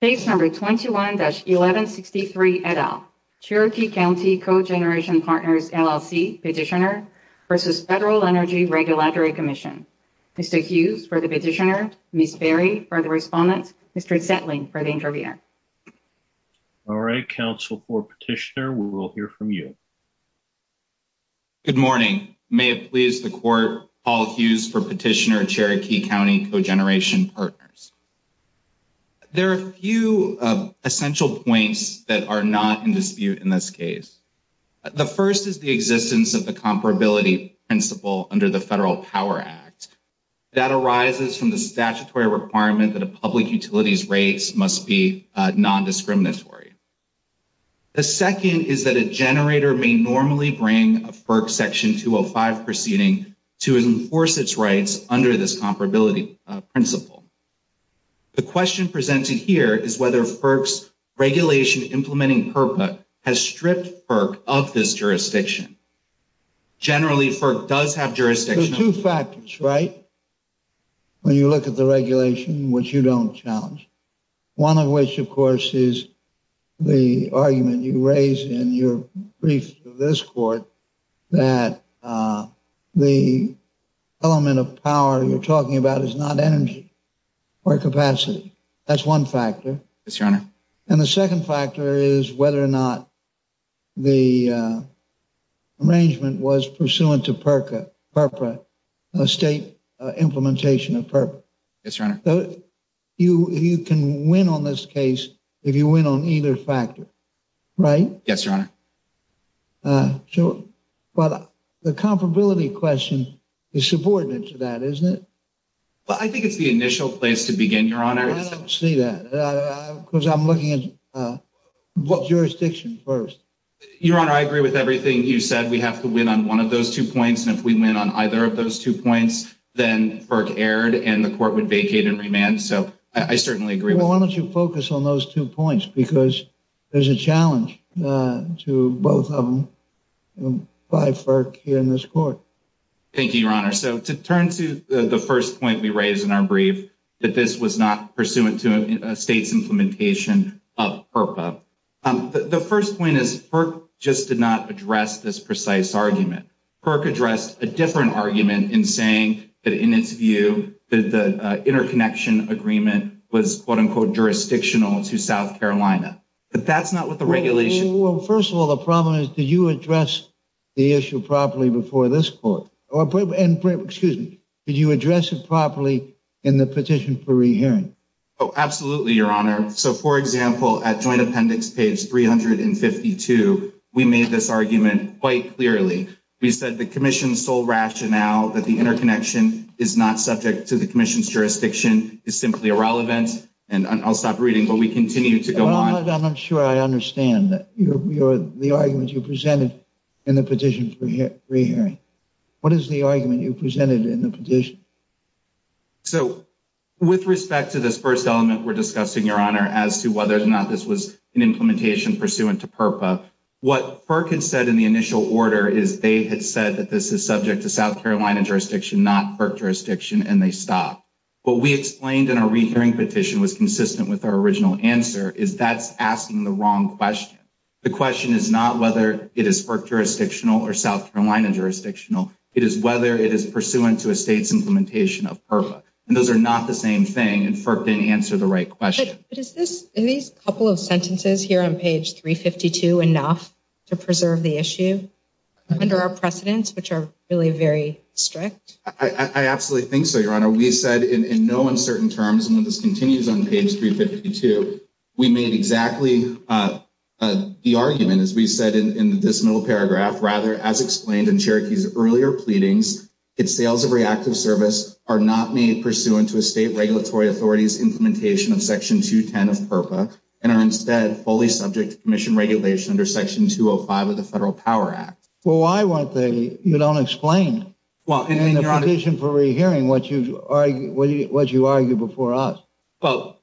Page number 21-1163, et al. Cherokee County Cogeneration Partners, LLC, Petitioner versus Federal Energy Regulatory Commission. Mr. Hughes for the petitioner, Ms. Berry for the respondent, Mr. Zetling for the interviewer. All right, Council for Petitioner, we will hear from you. Good morning. May it please the court, Paul Hughes for Petitioner, Cherokee County Cogeneration Partners. There are a few essential points that are not in dispute in this case. The first is the existence of the comparability principle under the Federal Power Act. That arises from the statutory requirement that a public utility's rates must be non-discriminatory. The second is that a generator may normally bring a FERC Section 205 proceeding to enforce its rights under this comparability principle. The question presented here is whether FERC's regulation implementing PIRPA has stripped FERC of this jurisdiction. Generally, FERC does have jurisdiction. There's two factors, right? When you look at the regulation, which you don't challenge. One of which, of course, is the argument you raise in your brief of this court, that the element of power you're talking about is not energy. Or capacity. That's one factor. Yes, Your Honor. And the second factor is whether or not the arrangement was pursuant to PIRPA, a state implementation of PIRPA. Yes, Your Honor. You can win on this case if you win on either factor. Right? Yes, Your Honor. But the comparability question is subordinate to that, isn't it? Well, I think it's the initial place to begin, Your Honor. I don't see that. Because I'm looking at what jurisdiction first. Your Honor, I agree with everything you said. We have to win on one of those two points. And if we win on either of those two points, then FERC erred and the court would vacate and remand. So I certainly agree with that. Well, why don't you focus on those two points? Because there's a challenge to both of them by FERC here in this court. Thank you, Your Honor. So to turn to the first point we raised in our brief, that this was not pursuant to a state's implementation of PIRPA. The first point is FERC just did not address this precise argument. FERC addressed a different argument in saying that in its view, that the interconnection agreement was quote unquote jurisdictional to South Carolina. But that's not what the regulation- Well, first of all, the problem is, did you address the issue properly before this court? Or excuse me, did you address it properly in the petition for re-hearing? Oh, absolutely, Your Honor. So for example, at joint appendix page 352, we made this argument quite clearly. We said the commission's sole rationale that the interconnection is not subject to the commission's jurisdiction is simply irrelevant. And I'll stop reading, but we continue to go on. I'm not sure I understand the argument you presented in the petition for re-hearing. What is the argument you presented in the petition? So with respect to this first element we're discussing, Your Honor, as to whether or not this was an implementation pursuant to PIRPA, what FERC had said in the initial order is they had said that this is subject to South Carolina jurisdiction, not FERC jurisdiction, and they stopped. What we explained in our re-hearing petition was consistent with our original answer, is that's asking the wrong question. The question is not whether it is FERC jurisdictional or South Carolina jurisdictional, it is whether it is pursuant to a state's implementation of PIRPA. And those are not the same thing, and FERC didn't answer the right question. But is this, are these couple of sentences here on page 352 enough to preserve the issue under our precedents, which are really very strict? I absolutely think so, Your Honor. We said in no uncertain terms, and when this continues on page 352, we made exactly the argument as we said in this middle paragraph, rather as explained in Cherokee's earlier pleadings, its sales of reactive service are not made pursuant to a state regulatory authority's implementation of section 210 of PIRPA, and are instead fully subject to commission regulation under section 205 of the Federal Power Act. Well, why weren't they, you don't explain in the petition for re-hearing what you argued before us. Well,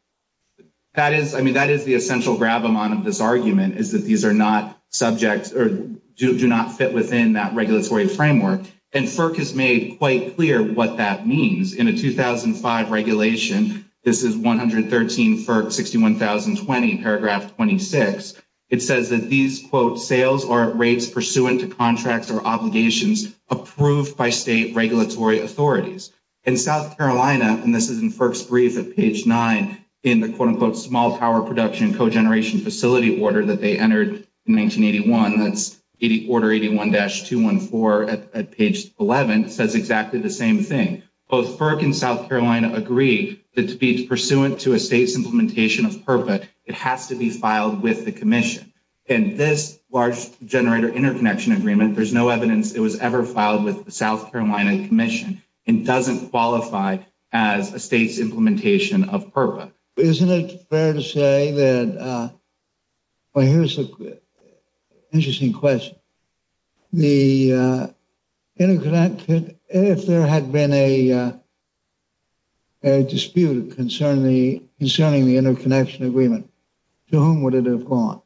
that is, I mean, that is the essential grab amount of this argument is that these are not subjects or do not fit within that regulatory framework. And FERC has made quite clear what that means. In a 2005 regulation, this is 113 FERC 61,020, paragraph 26. It says that these, quote, sales are at rates pursuant to contracts or obligations approved by state regulatory authorities. In South Carolina, and this is in FERC's brief at page nine, in the, quote, unquote, small power production and co-generation facility order that they entered in 1981, that's order 81-214 at page 11, says exactly the same thing. Both FERC and South Carolina agree that to be pursuant to a state's implementation of PIRPA, it has to be filed with the commission. And this large generator interconnection agreement, there's no evidence it was ever filed and doesn't qualify as a state's implementation of PIRPA. Isn't it fair to say that, well, here's an interesting question. The interconnection, if there had been a dispute concerning the interconnection agreement, to whom would it have gone?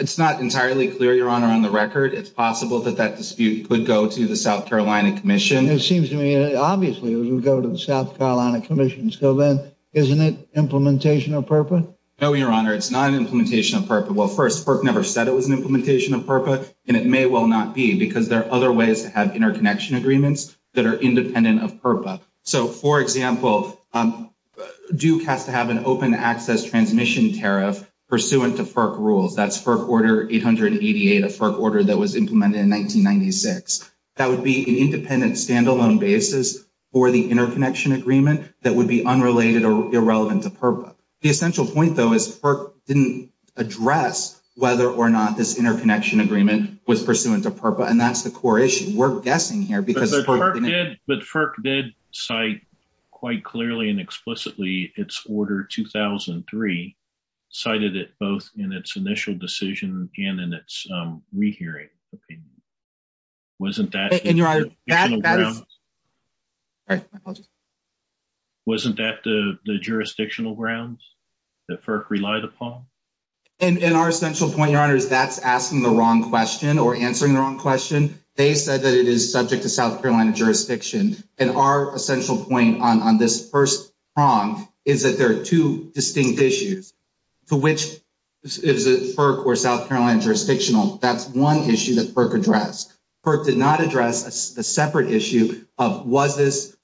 It's not entirely clear, Your Honor, on the record. It's possible that that dispute could go to the South Carolina Commission. It seems to me, obviously, it would go to the South Carolina Commission. So then, isn't it implementation of PIRPA? No, Your Honor, it's not an implementation of PIRPA. Well, first, FERC never said it was an implementation of PIRPA, and it may well not be, because there are other ways to have interconnection agreements that are independent of PIRPA. So, for example, Duke has to have an open access transmission tariff pursuant to FERC rules. That's FERC order 888, a FERC order that was implemented in 1996. That would be an independent standalone basis for the interconnection agreement that would be unrelated or irrelevant to PIRPA. The essential point, though, is FERC didn't address whether or not this interconnection agreement was pursuant to PIRPA, and that's the core issue. We're guessing here because FERC didn't- But FERC did cite quite clearly and explicitly its order 2003, cited it both in its initial decision and in its rehearing opinion. Wasn't that- And Your Honor, that is- Additional grounds. All right, my apologies. Wasn't that the jurisdictional grounds that FERC relied upon? And our essential point, Your Honor, is that's asking the wrong question or answering the wrong question. They said that it is subject to South Carolina jurisdiction. And our essential point on this first prong is that there are two distinct issues to which is it FERC or South Carolina jurisdictional. That's one issue that FERC addressed. FERC did not address the separate issue of was this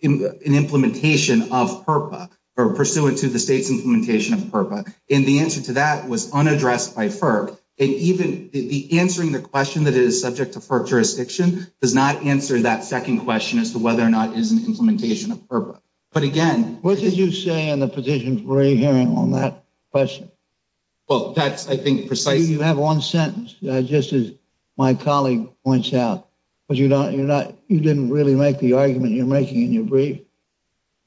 an implementation of PIRPA or pursuant to the state's implementation of PIRPA. And the answer to that was unaddressed by FERC. And even the answering the question that it is subject to FERC jurisdiction does not answer that second question as to whether or not it is an implementation of PIRPA. But again- What did you say in the petition for a hearing on that question? Well, that's, I think, precisely- You have one sentence, just as my colleague points out, but you didn't really make the argument you're making in your brief,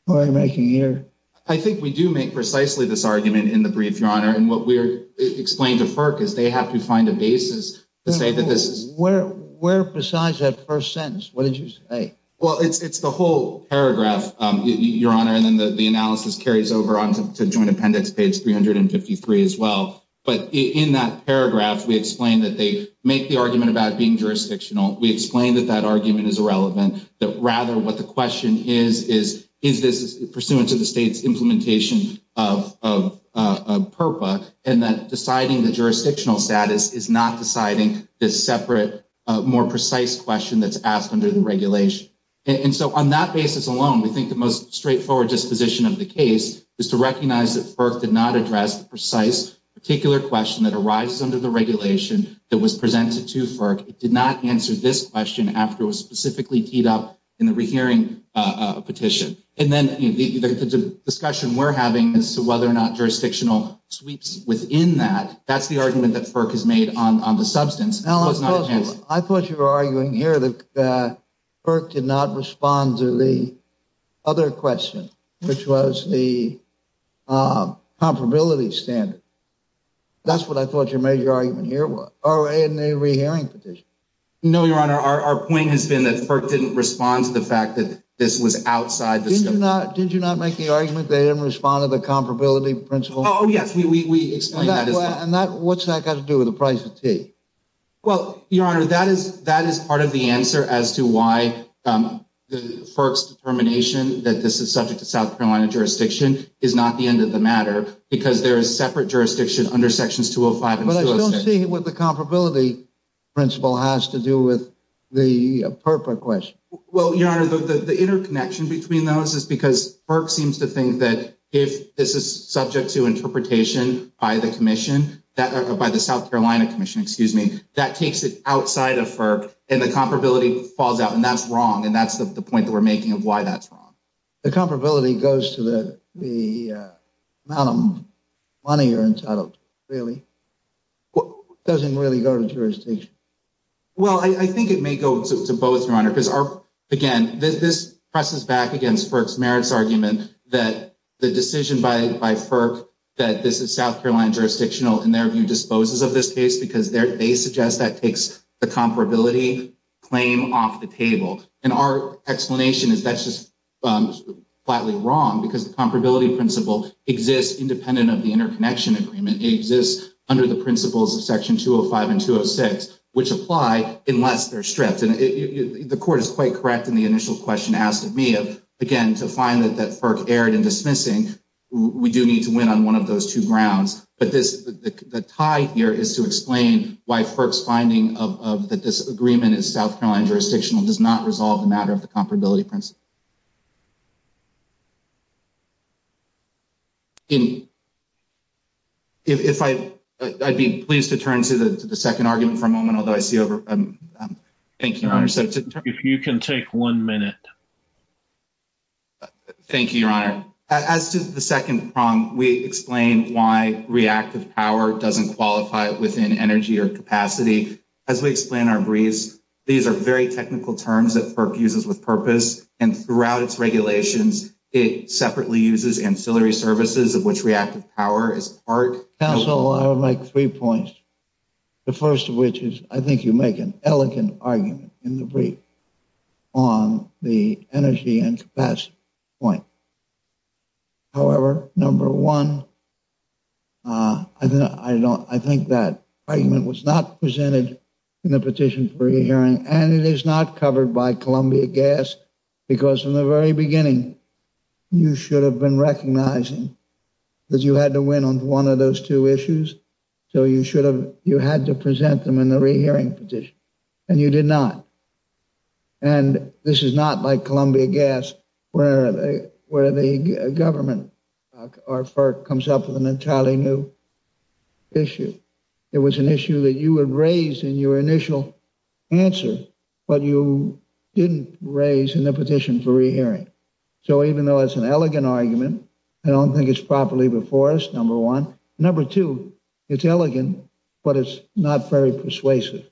or you're making here. I think we do make precisely this argument in the brief, Your Honor. And what we're explaining to FERC is they have to find a basis to say that this is- Where, besides that first sentence, what did you say? Well, it's the whole paragraph, Your Honor. And then the analysis carries over onto Joint Appendix page 353 as well. But in that paragraph, we explained that they make the argument about being jurisdictional. We explained that that argument is irrelevant, that rather what the question is is is this pursuant to the state's implementation of PIRPA, and that deciding the jurisdictional status is not deciding this separate, more precise question that's asked under the regulation. And so on that basis alone, we think the most straightforward disposition of the case is to recognize that FERC did not address the precise, particular question that arises under the regulation that was presented to FERC. It did not answer this question after it was specifically teed up in the rehearing petition. And then the discussion we're having as to whether or not jurisdictional sweeps within that, that's the argument that FERC has made on the substance. It was not enhanced. I thought you were arguing here that FERC did not respond to the other question, which was the comparability standard. That's what I thought your major argument here was, or in the rehearing petition. No, Your Honor, our point has been that FERC didn't respond to the fact that this was outside the scope. Did you not make the argument they didn't respond to the comparability principle? Oh, yes, we explained that as well. And what's that got to do with the price of tea? Well, Your Honor, that is part of the answer as to why FERC's determination that this is subject to South Carolina jurisdiction is not the end of the matter, because there is separate jurisdiction under Sections 205 and 206. But I still don't see what the comparability principle has to do with the FERPA question. Well, Your Honor, the interconnection between those is because FERC seems to think that if this is subject to interpretation by the commission, by the South Carolina commission, excuse me, that takes it outside of FERC and the comparability falls out, and that's wrong. And that's the point that we're making of why that's wrong. The comparability goes to the amount of money you're entitled to, really. It doesn't really go to jurisdiction. Well, I think it may go to both, Your Honor, because again, this presses back against FERC's merits argument that the decision by FERC that this is South Carolina jurisdictional in their view disposes of this case because they suggest that takes the comparability claim off the table. And our explanation is that's just flatly wrong because the comparability principle exists independent of the interconnection agreement. It exists under the principles of section 205 and 206, which apply unless they're stripped. And the court is quite correct in the initial question asked of me, again, to find that FERC erred in dismissing, we do need to win on one of those two grounds. But the tie here is to explain why FERC's finding of that this agreement is South Carolina jurisdictional does not resolve the matter of the comparability principle. If I, I'd be pleased to turn to the second argument for a moment, although I see over, thank you, Your Honor. So to- If you can take one minute. Thank you, Your Honor. As to the second prong, we explained why reactive power doesn't qualify within energy or capacity. As we explain our briefs, these are very technical terms that FERC uses with purpose and throughout its regulations, it separately uses ancillary services of which reactive power is part. Counsel, I would make three points. The first of which is, I think you make an elegant argument in the brief on the energy and capacity point. However, number one, I think that argument was not presented in the petition for your hearing and it is not covered by Columbia Gas because from the very beginning, you should have been recognizing that you had to win on one of those two issues. So you should have, you had to present them in the rehearing petition and you did not. And this is not like Columbia Gas where the government or FERC comes up with an entirely new issue. It was an issue that you had raised in your initial answer, but you didn't raise in the petition for rehearing. So even though it's an elegant argument, I don't think it's properly before us, number one. Number two, it's elegant, but it's not very persuasive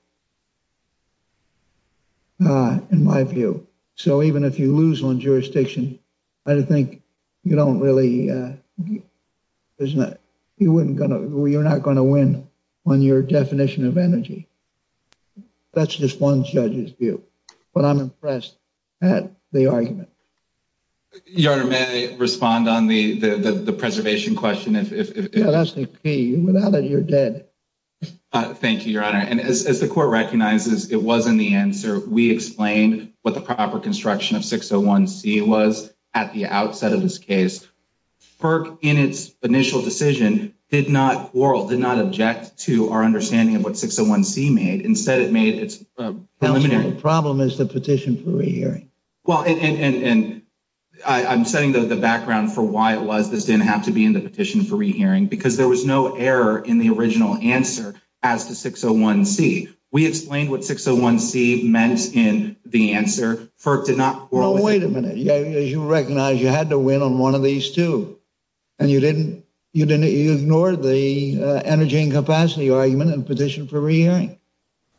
in my view. So even if you lose on jurisdiction, I think you don't really, you're not gonna win on your definition of energy. That's just one judge's view, but I'm impressed at the argument. Your Honor, may I respond on the preservation question? Yeah, that's the key. Without it, you're dead. Thank you, Your Honor. And as the court recognizes, it wasn't the answer. We explained what the proper construction of 601C was at the outset of this case. FERC, in its initial decision, did not quarrel, did not object to our understanding of what 601C made. Instead, it made its preliminary- The problem is the petition for rehearing. Well, and I'm setting the background for why it was. This didn't have to be in the petition for rehearing because there was no error in the original answer as to 601C. We explained what 601C meant in the answer. FERC did not quarrel- Well, wait a minute. As you recognize, you had to win on one of these two, and you ignored the energy and capacity argument and petitioned for rehearing.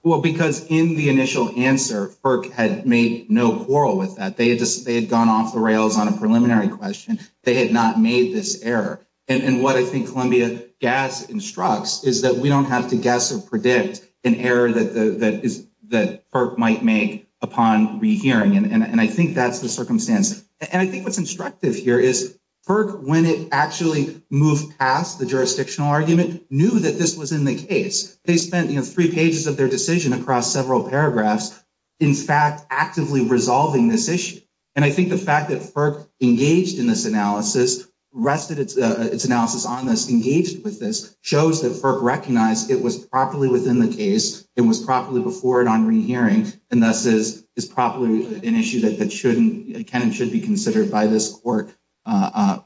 Well, because in the initial answer, FERC had made no quarrel with that. They had gone off the rails on a preliminary question. They had not made this error. And what I think Columbia Gas instructs is that we don't have to guess or predict an error that FERC might make upon rehearing. And I think that's the circumstance. And I think what's instructive here is FERC, when it actually moved past the jurisdictional argument, knew that this was in the case. They spent three pages of their decision across several paragraphs, in fact, actively resolving this issue. And I think the fact that FERC engaged in this analysis, rested its analysis on this, engaged with this, shows that FERC recognized it was properly within the case, it was properly before it on rehearing, and thus is properly an issue that shouldn't, can and should be considered by this court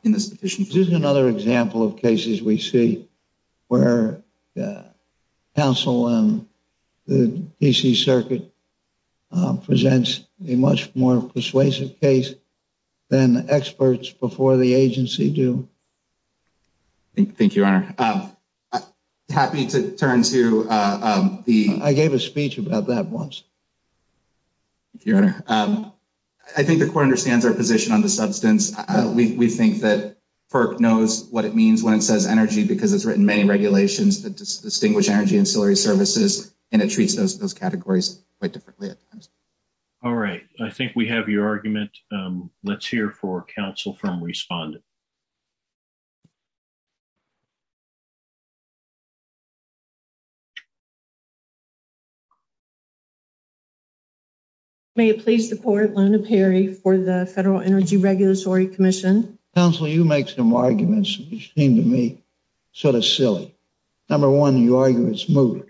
in this petition. This is another example of cases we see where counsel in the D.C. Circuit presents a much more persuasive case than experts before the agency do. Thank you, Your Honor. Happy to turn to the- I'll ask you about that once. Thank you, Your Honor. I think the court understands our position on the substance. We think that FERC knows what it means when it says energy because it's written many regulations that distinguish energy and ciliary services, and it treats those categories quite differently at times. All right. I think we have your argument. Let's hear for counsel from respondent. May it please the court, Lona Perry for the Federal Energy Regulatory Commission. Counsel, you make some arguments which seem to me sort of silly. Number one, you argue it's moot.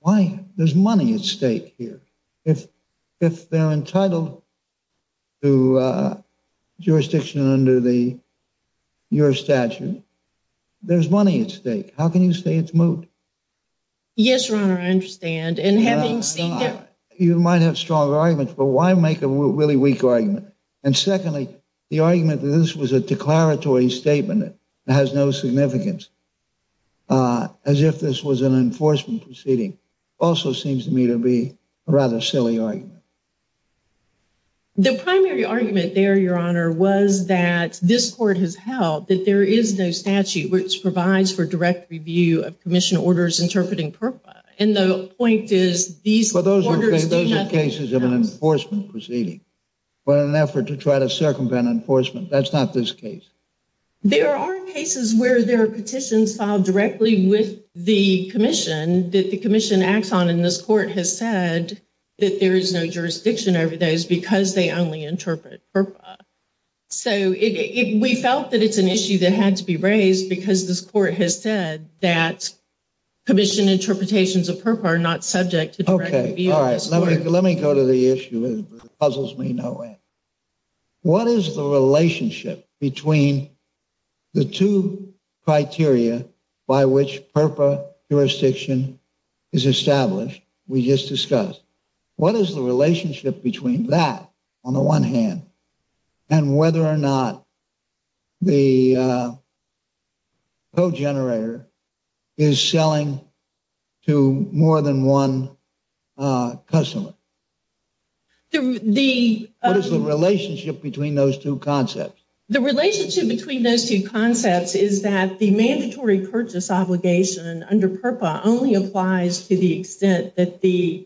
Why? There's money at stake here. If they're entitled to jurisdiction under your statute, there's money at stake. How can you say it's moot? Yes, Your Honor, I understand. And having seen that- You might have stronger arguments, but why make a really weak argument? And secondly, the argument that this was a declaratory statement that has no significance, as if this was an enforcement proceeding, also seems to me to be a rather silly argument. The primary argument there, Your Honor, was that this court has held that there is no statute which provides for direct review of commission orders interpreting FERPA. And the point is, these orders do nothing. But those are cases of an enforcement proceeding, but in an effort to try to circumvent enforcement. That's not this case. There are cases where there are petitions filed directly with the commission that the commission acts on, and this court has said that there is no jurisdiction over those because they only interpret FERPA. So we felt that it's an issue that had to be raised because this court has said that commission interpretations of FERPA are not subject to direct review. Okay, all right. Let me go to the issue that puzzles me in no way. What is the relationship between the two criteria by which FERPA jurisdiction is established? We just discussed. What is the relationship between that, on the one hand, and whether or not the code generator is selling to more than one customer? What is the relationship between those two concepts? The relationship between those two concepts is that the mandatory purchase obligation under FERPA only applies to the extent that the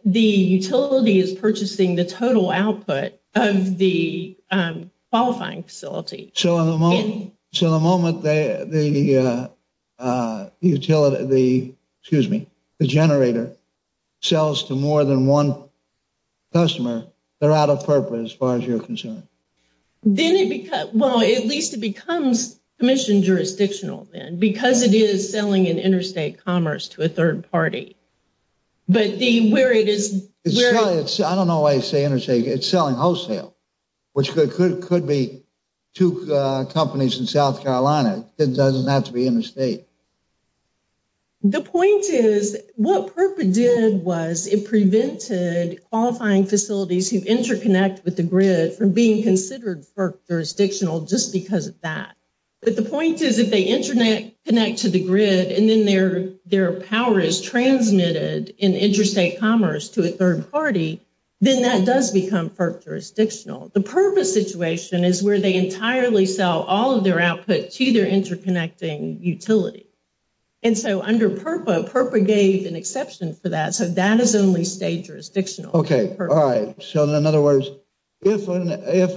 utility is purchasing the total output of the qualifying facility. So in the moment the utility, excuse me, the generator sells to more than one customer, they're out of FERPA as far as you're concerned? Then it becomes, well, at least it becomes commission jurisdictional then because it is selling an interstate commerce to a third party. But the, where it is- I don't know why you say interstate. It's selling wholesale, which could be two companies in South Carolina. It doesn't have to be interstate. The point is what FERPA did was it prevented qualifying facilities who interconnect with the grid from being considered FERPA jurisdictional just because of that. But the point is if they interconnect to the grid and then their power is transmitted in interstate commerce to a third party, then that does become FERPA jurisdictional. The purpose situation is where they entirely sell all of their output to their interconnecting utility. And so under FERPA, FERPA gave an exception for that. So that is only state jurisdictional. Okay, all right. So in other words, if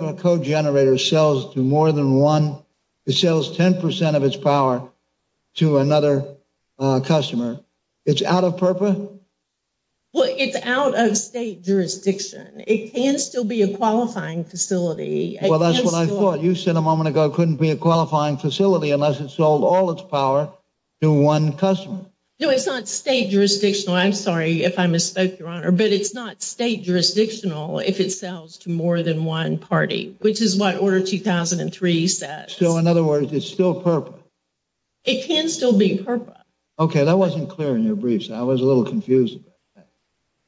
a code generator sells to more than one, it sells 10% of its power to another customer. It's out of FERPA? Well, it's out of state jurisdiction. It can still be a qualifying facility. Well, that's what I thought. You said a moment ago, it couldn't be a qualifying facility unless it sold all its power to one customer. No, it's not state jurisdictional. I'm sorry if I misspoke, Your Honor. But it's not state jurisdictional if it sells to more than one party, which is what Order 2003 says. So in other words, it's still FERPA? It can still be FERPA. Okay, that wasn't clear in your briefs. I was a little confused about that.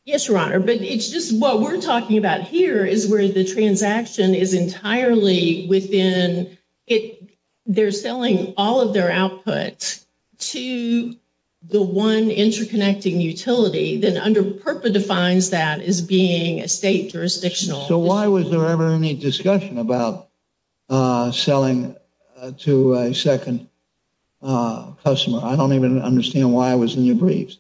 Yes, Your Honor. But it's just what we're talking about here is where the transaction is entirely within it. They're selling all of their output to the one interconnecting utility. Then under FERPA defines that as being a state jurisdictional. So why was there ever any discussion about selling to a second customer? I don't even understand why it was in your briefs.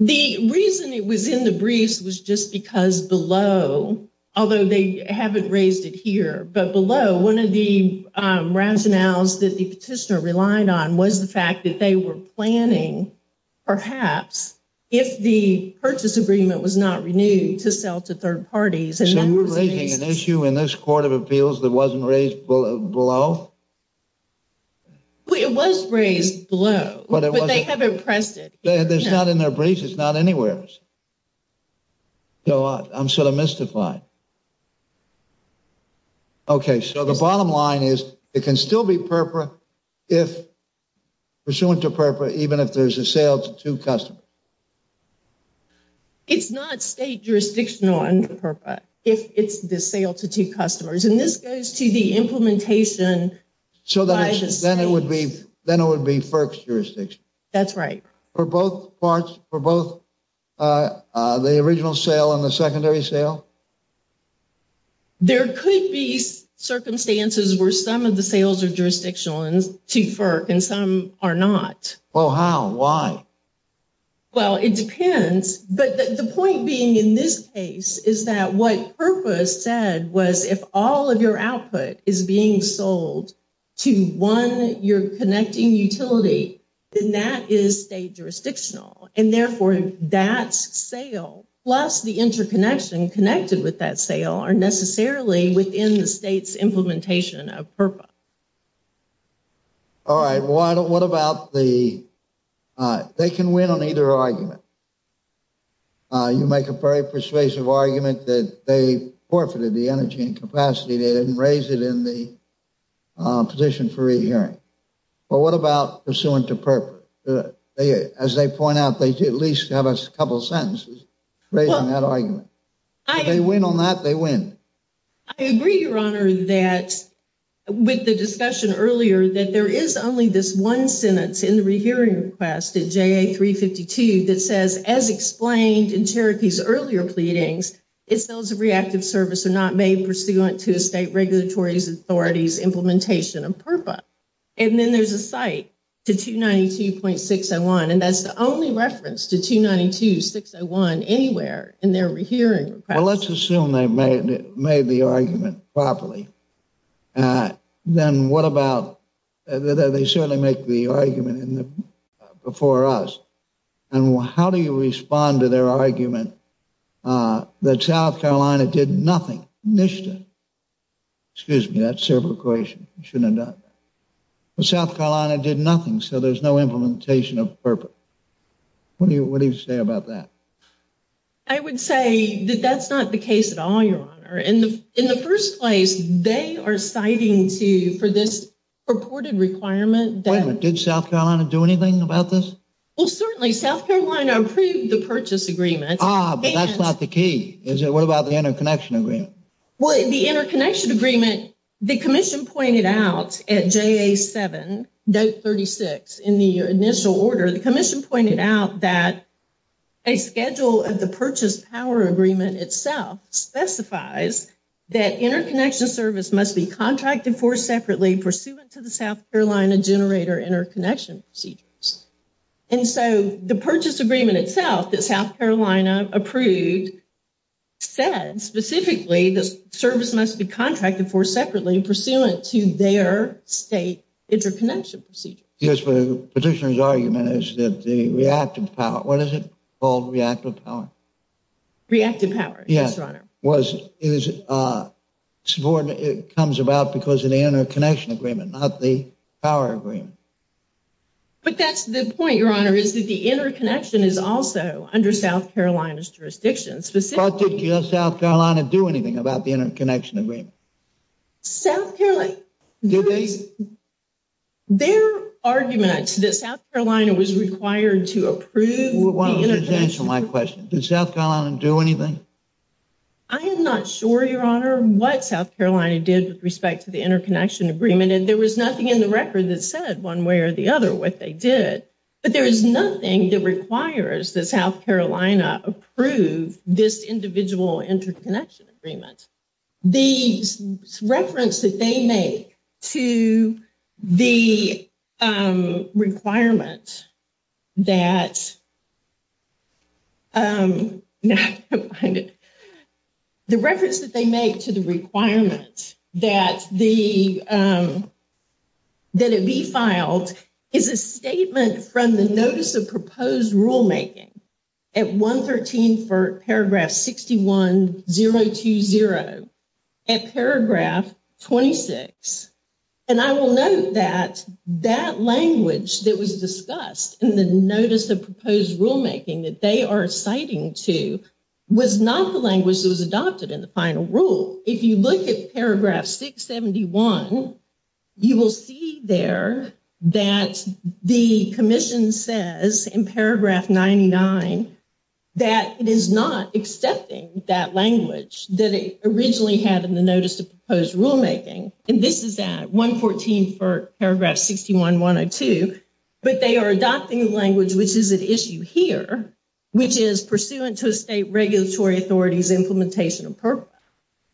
The reason it was in the briefs was just because below, although they haven't raised it here, but below one of the rationales that the petitioner relied on was the fact that they were planning, perhaps, if the purchase agreement was not renewed to sell to third parties. So you're raising an issue in this Court of Appeals that wasn't raised below? It was raised below, but they haven't pressed it. It's not in their briefs. It's not anywhere else. So I'm sort of mystified. Okay, so the bottom line is it can still be FERPA if pursuant to FERPA, even if there's a sale to two customers. It's not state jurisdictional under FERPA if it's the sale to two customers. And this goes to the implementation by the state. Then it would be FERPA's jurisdiction. That's right. For both the original sale and the secondary sale? There could be circumstances where some of the sales are jurisdictional to FERPA and some are not. Well, how, why? Well, it depends. But the point being in this case is that what FERPA said was if all of your output is being sold to one, your connecting utility, then that is state jurisdictional. And therefore, that sale, plus the interconnection connected with that sale are necessarily within the state's implementation of FERPA. All right, what about the, they can win on either argument. You make a very persuasive argument that they forfeited the energy and capacity. They didn't raise it in the position for rehearing. But what about pursuant to FERPA? As they point out, they at least have a couple of sentences raising that argument. If they win on that, they win. I agree, Your Honor, that with the discussion earlier, that there is only this one sentence in the rehearing request at JA352 that says, as explained in Cherokee's earlier pleadings, its sales of reactive service are not made pursuant to a state regulatory authority's implementation of FERPA. And then there's a cite to 292.601. And that's the only reference to 292.601 anywhere in their rehearing request. Well, let's assume they made the argument properly. Then what about, they certainly make the argument before us. And how do you respond to their argument that South Carolina did nothing, NISHDA? Excuse me, that's a separate question. You shouldn't have done that. But South Carolina did nothing, so there's no implementation of FERPA. What do you say about that? I would say that that's not the case at all, Your Honor. In the first place, they are citing to, for this purported requirement that- Wait a minute, did South Carolina do anything about this? Well, certainly, South Carolina approved the purchase agreement. Ah, but that's not the key. Is it, what about the interconnection agreement? Well, the interconnection agreement, the commission pointed out at JA7, note 36 in the initial order, the commission pointed out that a schedule of the purchase power agreement itself specifies that interconnection service must be contracted for separately pursuant to the South Carolina generator interconnection procedures. And so the purchase agreement itself that South Carolina approved said specifically the service must be contracted for separately pursuant to their state interconnection procedures. Yes, but the petitioner's argument is that the reactive power, what is it called, reactive power? Reactive power, yes, Your Honor. Was, it was, it comes about because of the interconnection agreement, not the power agreement. But that's the point, Your Honor, is that the interconnection is also under South Carolina's jurisdiction. Specifically- But did South Carolina do anything about the interconnection agreement? South Carolina- Did they? Their argument that South Carolina was required to approve the interconnection- Why don't you just answer my question. Did South Carolina do anything? I am not sure, Your Honor, what South Carolina did with respect to the interconnection agreement. And there was nothing in the record that said one way or the other what they did. But there is nothing that requires that South Carolina approve this individual interconnection agreement. The reference that they make to the requirement that, the reference that they make to the requirement that the, that it be filed is a statement from the Notice of Proposed Rulemaking at 113 for paragraph 61020 at paragraph 26. And I will note that that language that was discussed in the Notice of Proposed Rulemaking that they are citing to was not the language that was adopted in the final rule. If you look at paragraph 671, you will see there that the commission says in paragraph 99 that it is not accepting that language that it originally had in the Notice of Proposed Rulemaking. And this is at 114 for paragraph 61102, but they are adopting language, which is at issue here, which is pursuant to a state regulatory authority's implementation of purpose.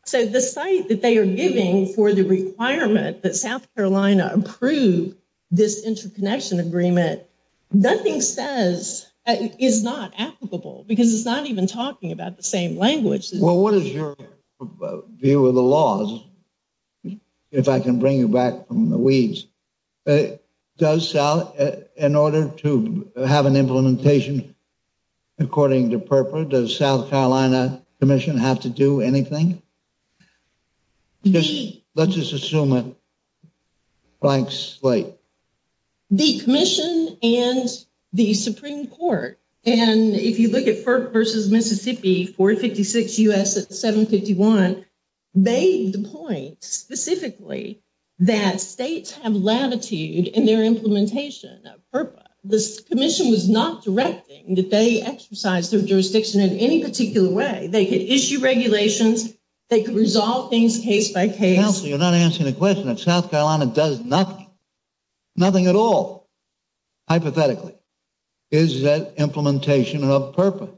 So the site that they are giving for the requirement that South Carolina approve this interconnection agreement, nothing says is not applicable because it's not even talking about the same language. Well, what is your view of the laws? If I can bring you back from the weeds. Does South, in order to have an implementation according to purpose, does South Carolina Commission have to do anything? Let's just assume it blank slate. The commission and the Supreme Court, and if you look at FERPA versus Mississippi, 456 U.S. at 751, they point specifically that states have latitude in their implementation of FERPA. The commission was not directing that they exercise their jurisdiction in any particular way. They could issue regulations, they could resolve things case by case. Counselor, you're not answering the question. South Carolina does nothing, nothing at all, hypothetically. Is that implementation of FERPA?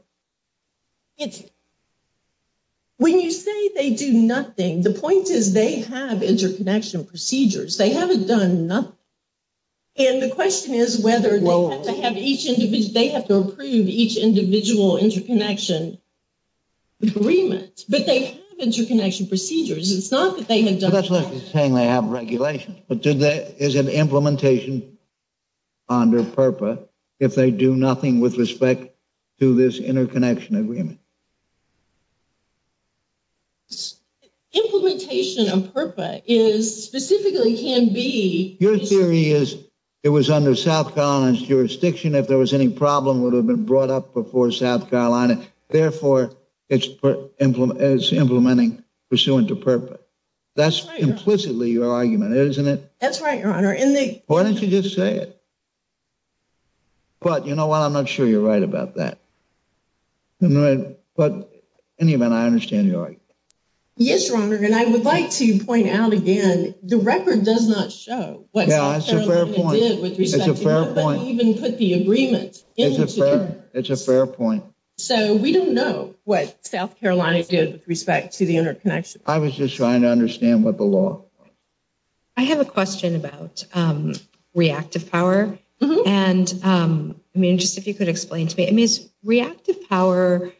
When you say they do nothing, the point is they have interconnection procedures. They haven't done nothing. And the question is whether they have to have each individual, they have to approve each individual interconnection agreement, but they have interconnection procedures. It's not that they have done nothing. That's what I'm saying, they have regulations, but is it implementation under FERPA if they do nothing with respect to this interconnection agreement? Implementation of FERPA is specifically can be- Your theory is it was under South Carolina's jurisdiction if there was any problem would have been brought up before South Carolina, therefore it's implementing pursuant to FERPA. That's implicitly your argument, isn't it? That's right, Your Honor. Why don't you just say it? But you know what, I'm not sure you're right about that. But in any event, I understand your argument. Yes, Your Honor, and I would like to point out again, the record does not show what South Carolina did with respect to FERPA. It's a fair point. It doesn't even put the agreement into FERPA. It's a fair point. So we don't know what South Carolina did with respect to the interconnection. I was just trying to understand what the law was. I have a question about reactive power. And I mean, just if you could explain to me, I mean, is reactive power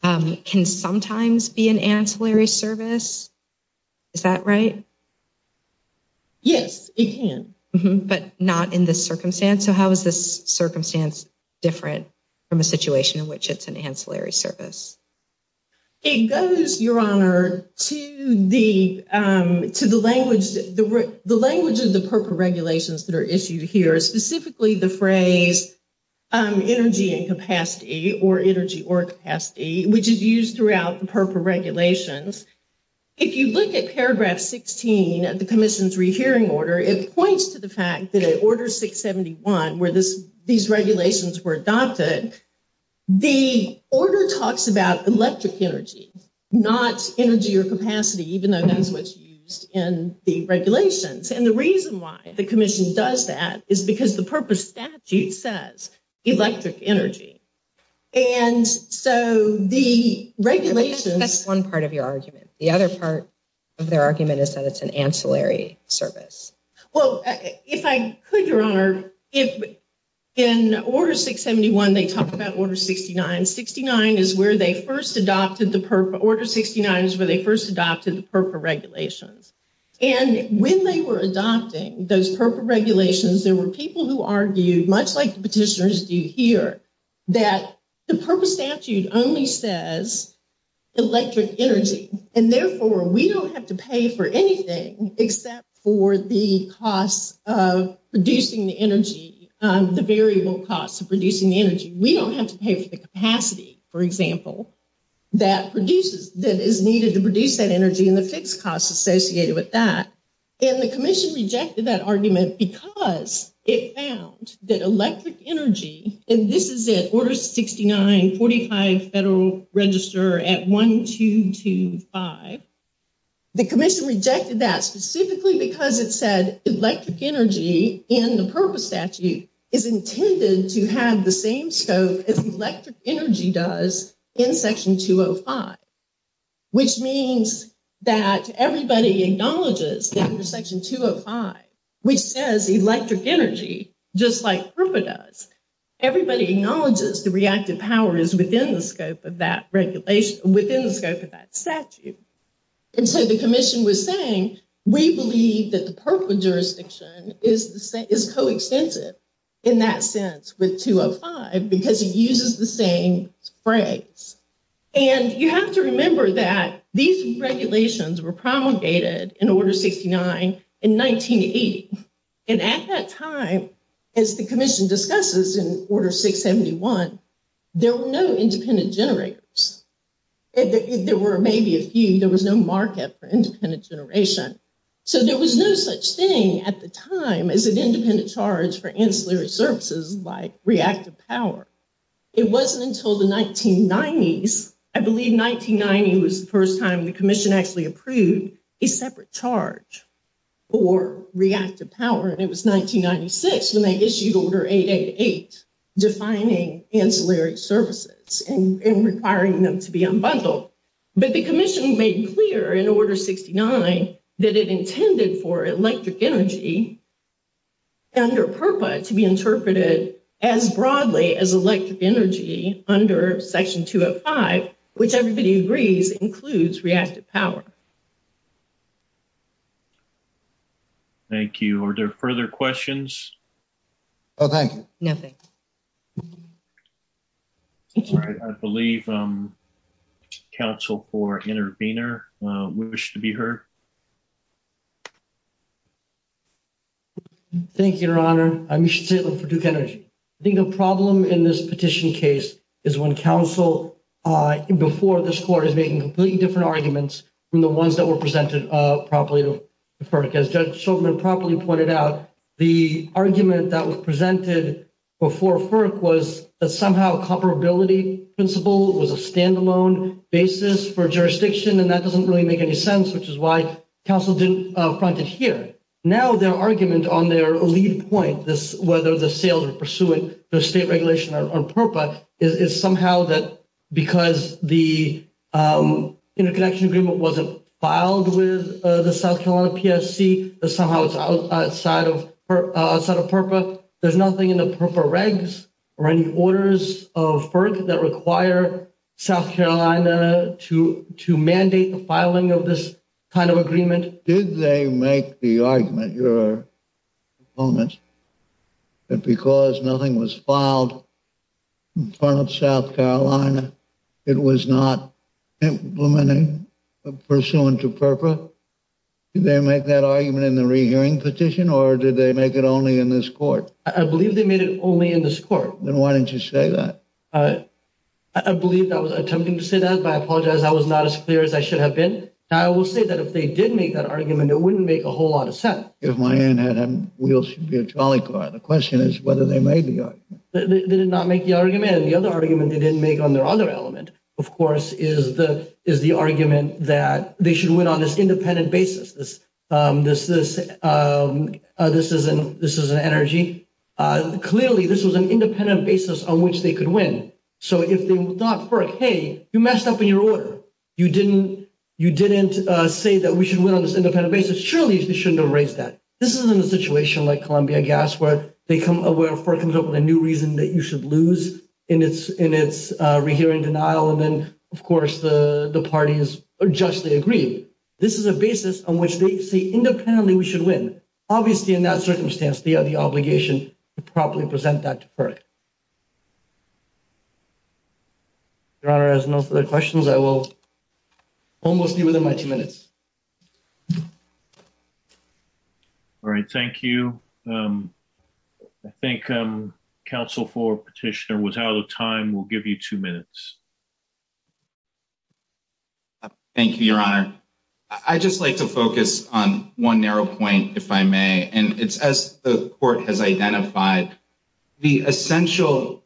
can sometimes be an ancillary service, is that right? Yes, it can. But not in this circumstance. So how is this circumstance different from a situation in which it's an ancillary service? It goes, Your Honor, to the language of the FERPA regulations that are issued here, specifically the phrase energy and capacity or energy or capacity, which is used throughout the FERPA regulations. If you look at paragraph 16 of the commission's rehearing order, it points to the fact that at order 671, where these regulations were adopted, the order talks about electric energy, not energy or capacity, even though that's what's used in the regulations. And the reason why the commission does that is because the FERPA statute says electric energy. And so the regulations- That's one part of your argument. The other part of their argument is that it's an ancillary service. Well, if I could, Your Honor, if in order 671, they talk about order 69, 69 is where they first adopted the FERPA, order 69 is where they first adopted the FERPA regulations. And when they were adopting those FERPA regulations, there were people who argued, much like the petitioners do here, that the FERPA statute only says electric energy. And therefore, we don't have to pay for anything except for the costs of producing the energy, the variable costs of producing the energy. We don't have to pay for the capacity, for example, that is needed to produce that energy and the fixed costs associated with that. And the commission rejected that argument because it found that electric energy, and this is at order 69, 45 Federal Register at 1225, the commission rejected that specifically because it said electric energy in the FERPA statute is intended to have the same scope as electric energy does in section 205, which means that everybody acknowledges that under section 205, which says electric energy, just like FERPA does, everybody acknowledges the reactive power is within the scope of that regulation, within the scope of that statute. And so the commission was saying, we believe that the FERPA jurisdiction is coextensive in that sense with 205 because it uses the same phrase. And you have to remember that these regulations were promulgated in order 69 in 1980. And at that time, as the commission discusses in order 671, there were no independent generators. There were maybe a few, there was no market for independent generation. So there was no such thing at the time as an independent charge for ancillary services like reactive power. It wasn't until the 1990s, I believe 1990 was the first time the commission actually approved a separate charge for reactive power. And it was 1996 when they issued order 888 defining ancillary services and requiring them to be unbundled. But the commission made clear in order 69 that it intended for electric energy under FERPA to be interpreted as broadly as electric energy under section 205, which everybody agrees includes reactive power. Thank you. Thank you. Are there further questions? Oh, thank you. Nothing. I believe council for intervener wish to be heard. Thank you, your honor. I'm Misha Taylor for Duke Energy. I think the problem in this petition case is when council before this court is making completely different arguments from the ones that were presented properly to FERC. As Judge Shulman properly pointed out, the argument that was presented before FERC was that somehow comparability principle was a standalone basis for jurisdiction. And that doesn't really make any sense, which is why council didn't front it here. Now their argument on their lead point, whether the sales are pursuant to the state regulation on FERPA is somehow that because the interconnection wasn't filed with the South Carolina PSC, that somehow it's outside of FERPA. There's nothing in the FERPA regs or any orders of FERC that require South Carolina to mandate the filing of this kind of agreement. Did they make the argument, your opponents, that because nothing was filed in front of South Carolina, it was not implementing pursuant to FERPA? Did they make that argument in the rehearing petition or did they make it only in this court? I believe they made it only in this court. Then why didn't you say that? I believe that was attempting to say that, but I apologize. That was not as clear as I should have been. Now I will say that if they did make that argument, it wouldn't make a whole lot of sense. If my aunt had wheels, she'd be a trolley car. The question is whether they made the argument. They did not make the argument. And the other argument they didn't make on their other element, of course, is the argument that they should win on this independent basis. This is an energy. Clearly, this was an independent basis on which they could win. So if they thought, FERC, hey, you messed up in your order. You didn't say that we should win on this independent basis. Surely you shouldn't have raised that. This isn't a situation like Columbia Gas where FERC comes up with a new reason that you should lose in its rehearing denial. And then, of course, the parties are justly agreed. This is a basis on which they say, independently, we should win. Obviously, in that circumstance, they have the obligation to properly present that to FERC. Your Honor, as no further questions, I will almost be within my two minutes. All right, thank you. I think Counsel for Petitioner was out of time. We'll give you two minutes. Thank you, Your Honor. I'd just like to focus on one narrow point, if I may. And it's as the court has identified, the essential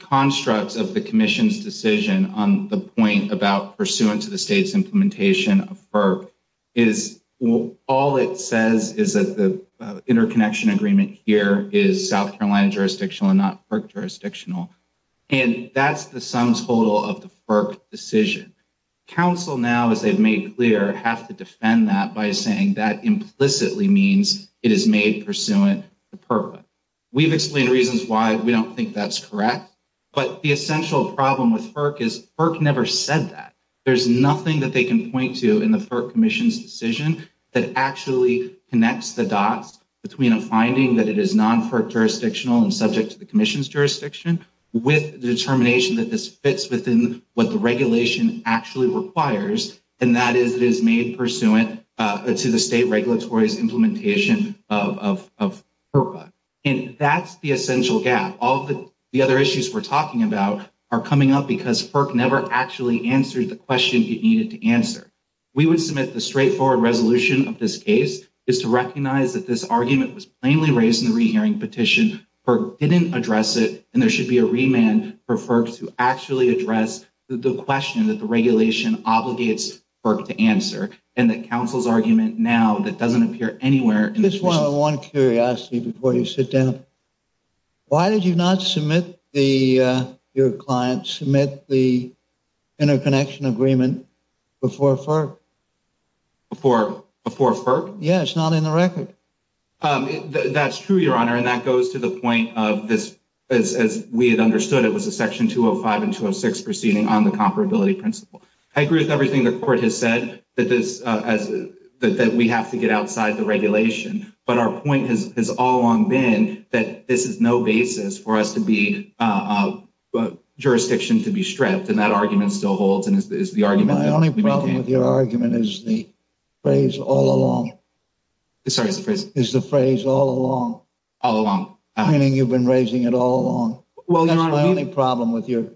constructs of the commission's decision on the point about pursuant to the state's implementation of FERC is all it says is that the interconnection agreement here is South Carolina jurisdictional and not FERC jurisdictional. And that's the sum total of the FERC decision. Counsel now, as they've made clear, have to defend that by saying that implicitly means it is made pursuant to FERPA. We've explained reasons why we don't think that's correct. But the essential problem with FERC is FERC never said that. There's nothing that they can point to in the FERC commission's decision that actually connects the dots between a finding that it is non-FERC jurisdictional and subject to the commission's jurisdiction with determination that this fits within what the regulation actually requires. And that is it is made pursuant to the state regulatory's implementation of FERPA. And that's the essential gap. All of the other issues we're talking about are coming up because FERC never actually answered the question it needed to answer. We would submit the straightforward resolution of this case is to recognize that this argument was plainly raised in the rehearing petition. FERC didn't address it, and there should be a remand for FERC to actually address the question that the regulation obligates FERC to answer. And that counsel's argument now that doesn't appear anywhere- Just one curiosity before you sit down. Why did you not submit your client, submit the interconnection agreement before FERC? Before FERC? Yeah, it's not in the record. That's true, your honor. And that goes to the point of this, as we had understood it was a section 205 and 206 proceeding on the comparability principle. I agree with everything the court has said that we have to get outside the regulation, but our point has all along been that this is no basis for us to be, jurisdiction to be stripped. And that argument still holds. My only problem with your argument is the phrase all along. Sorry, what's the phrase? Is the phrase all along. All along. Meaning you've been raising it all along. Well, your honor- That's my only problem with your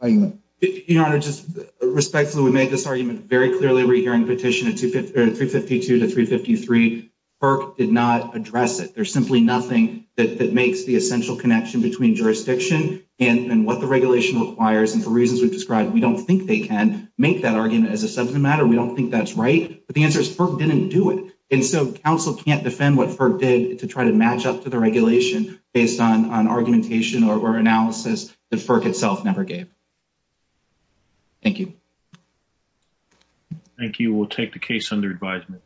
argument. Your honor, just respectfully, we made this argument very clearly in the rehearing petition at 352 to 353. FERC did not address it. There's simply nothing that makes the essential connection between jurisdiction and what the regulation requires. And for reasons we've described, we don't think they can make that argument as a subject matter. We don't think that's right. But the answer is FERC didn't do it. And so council can't defend what FERC did to try to match up to the regulation based on argumentation or analysis that FERC itself never gave. Thank you. Thank you. We'll take the case under advisement.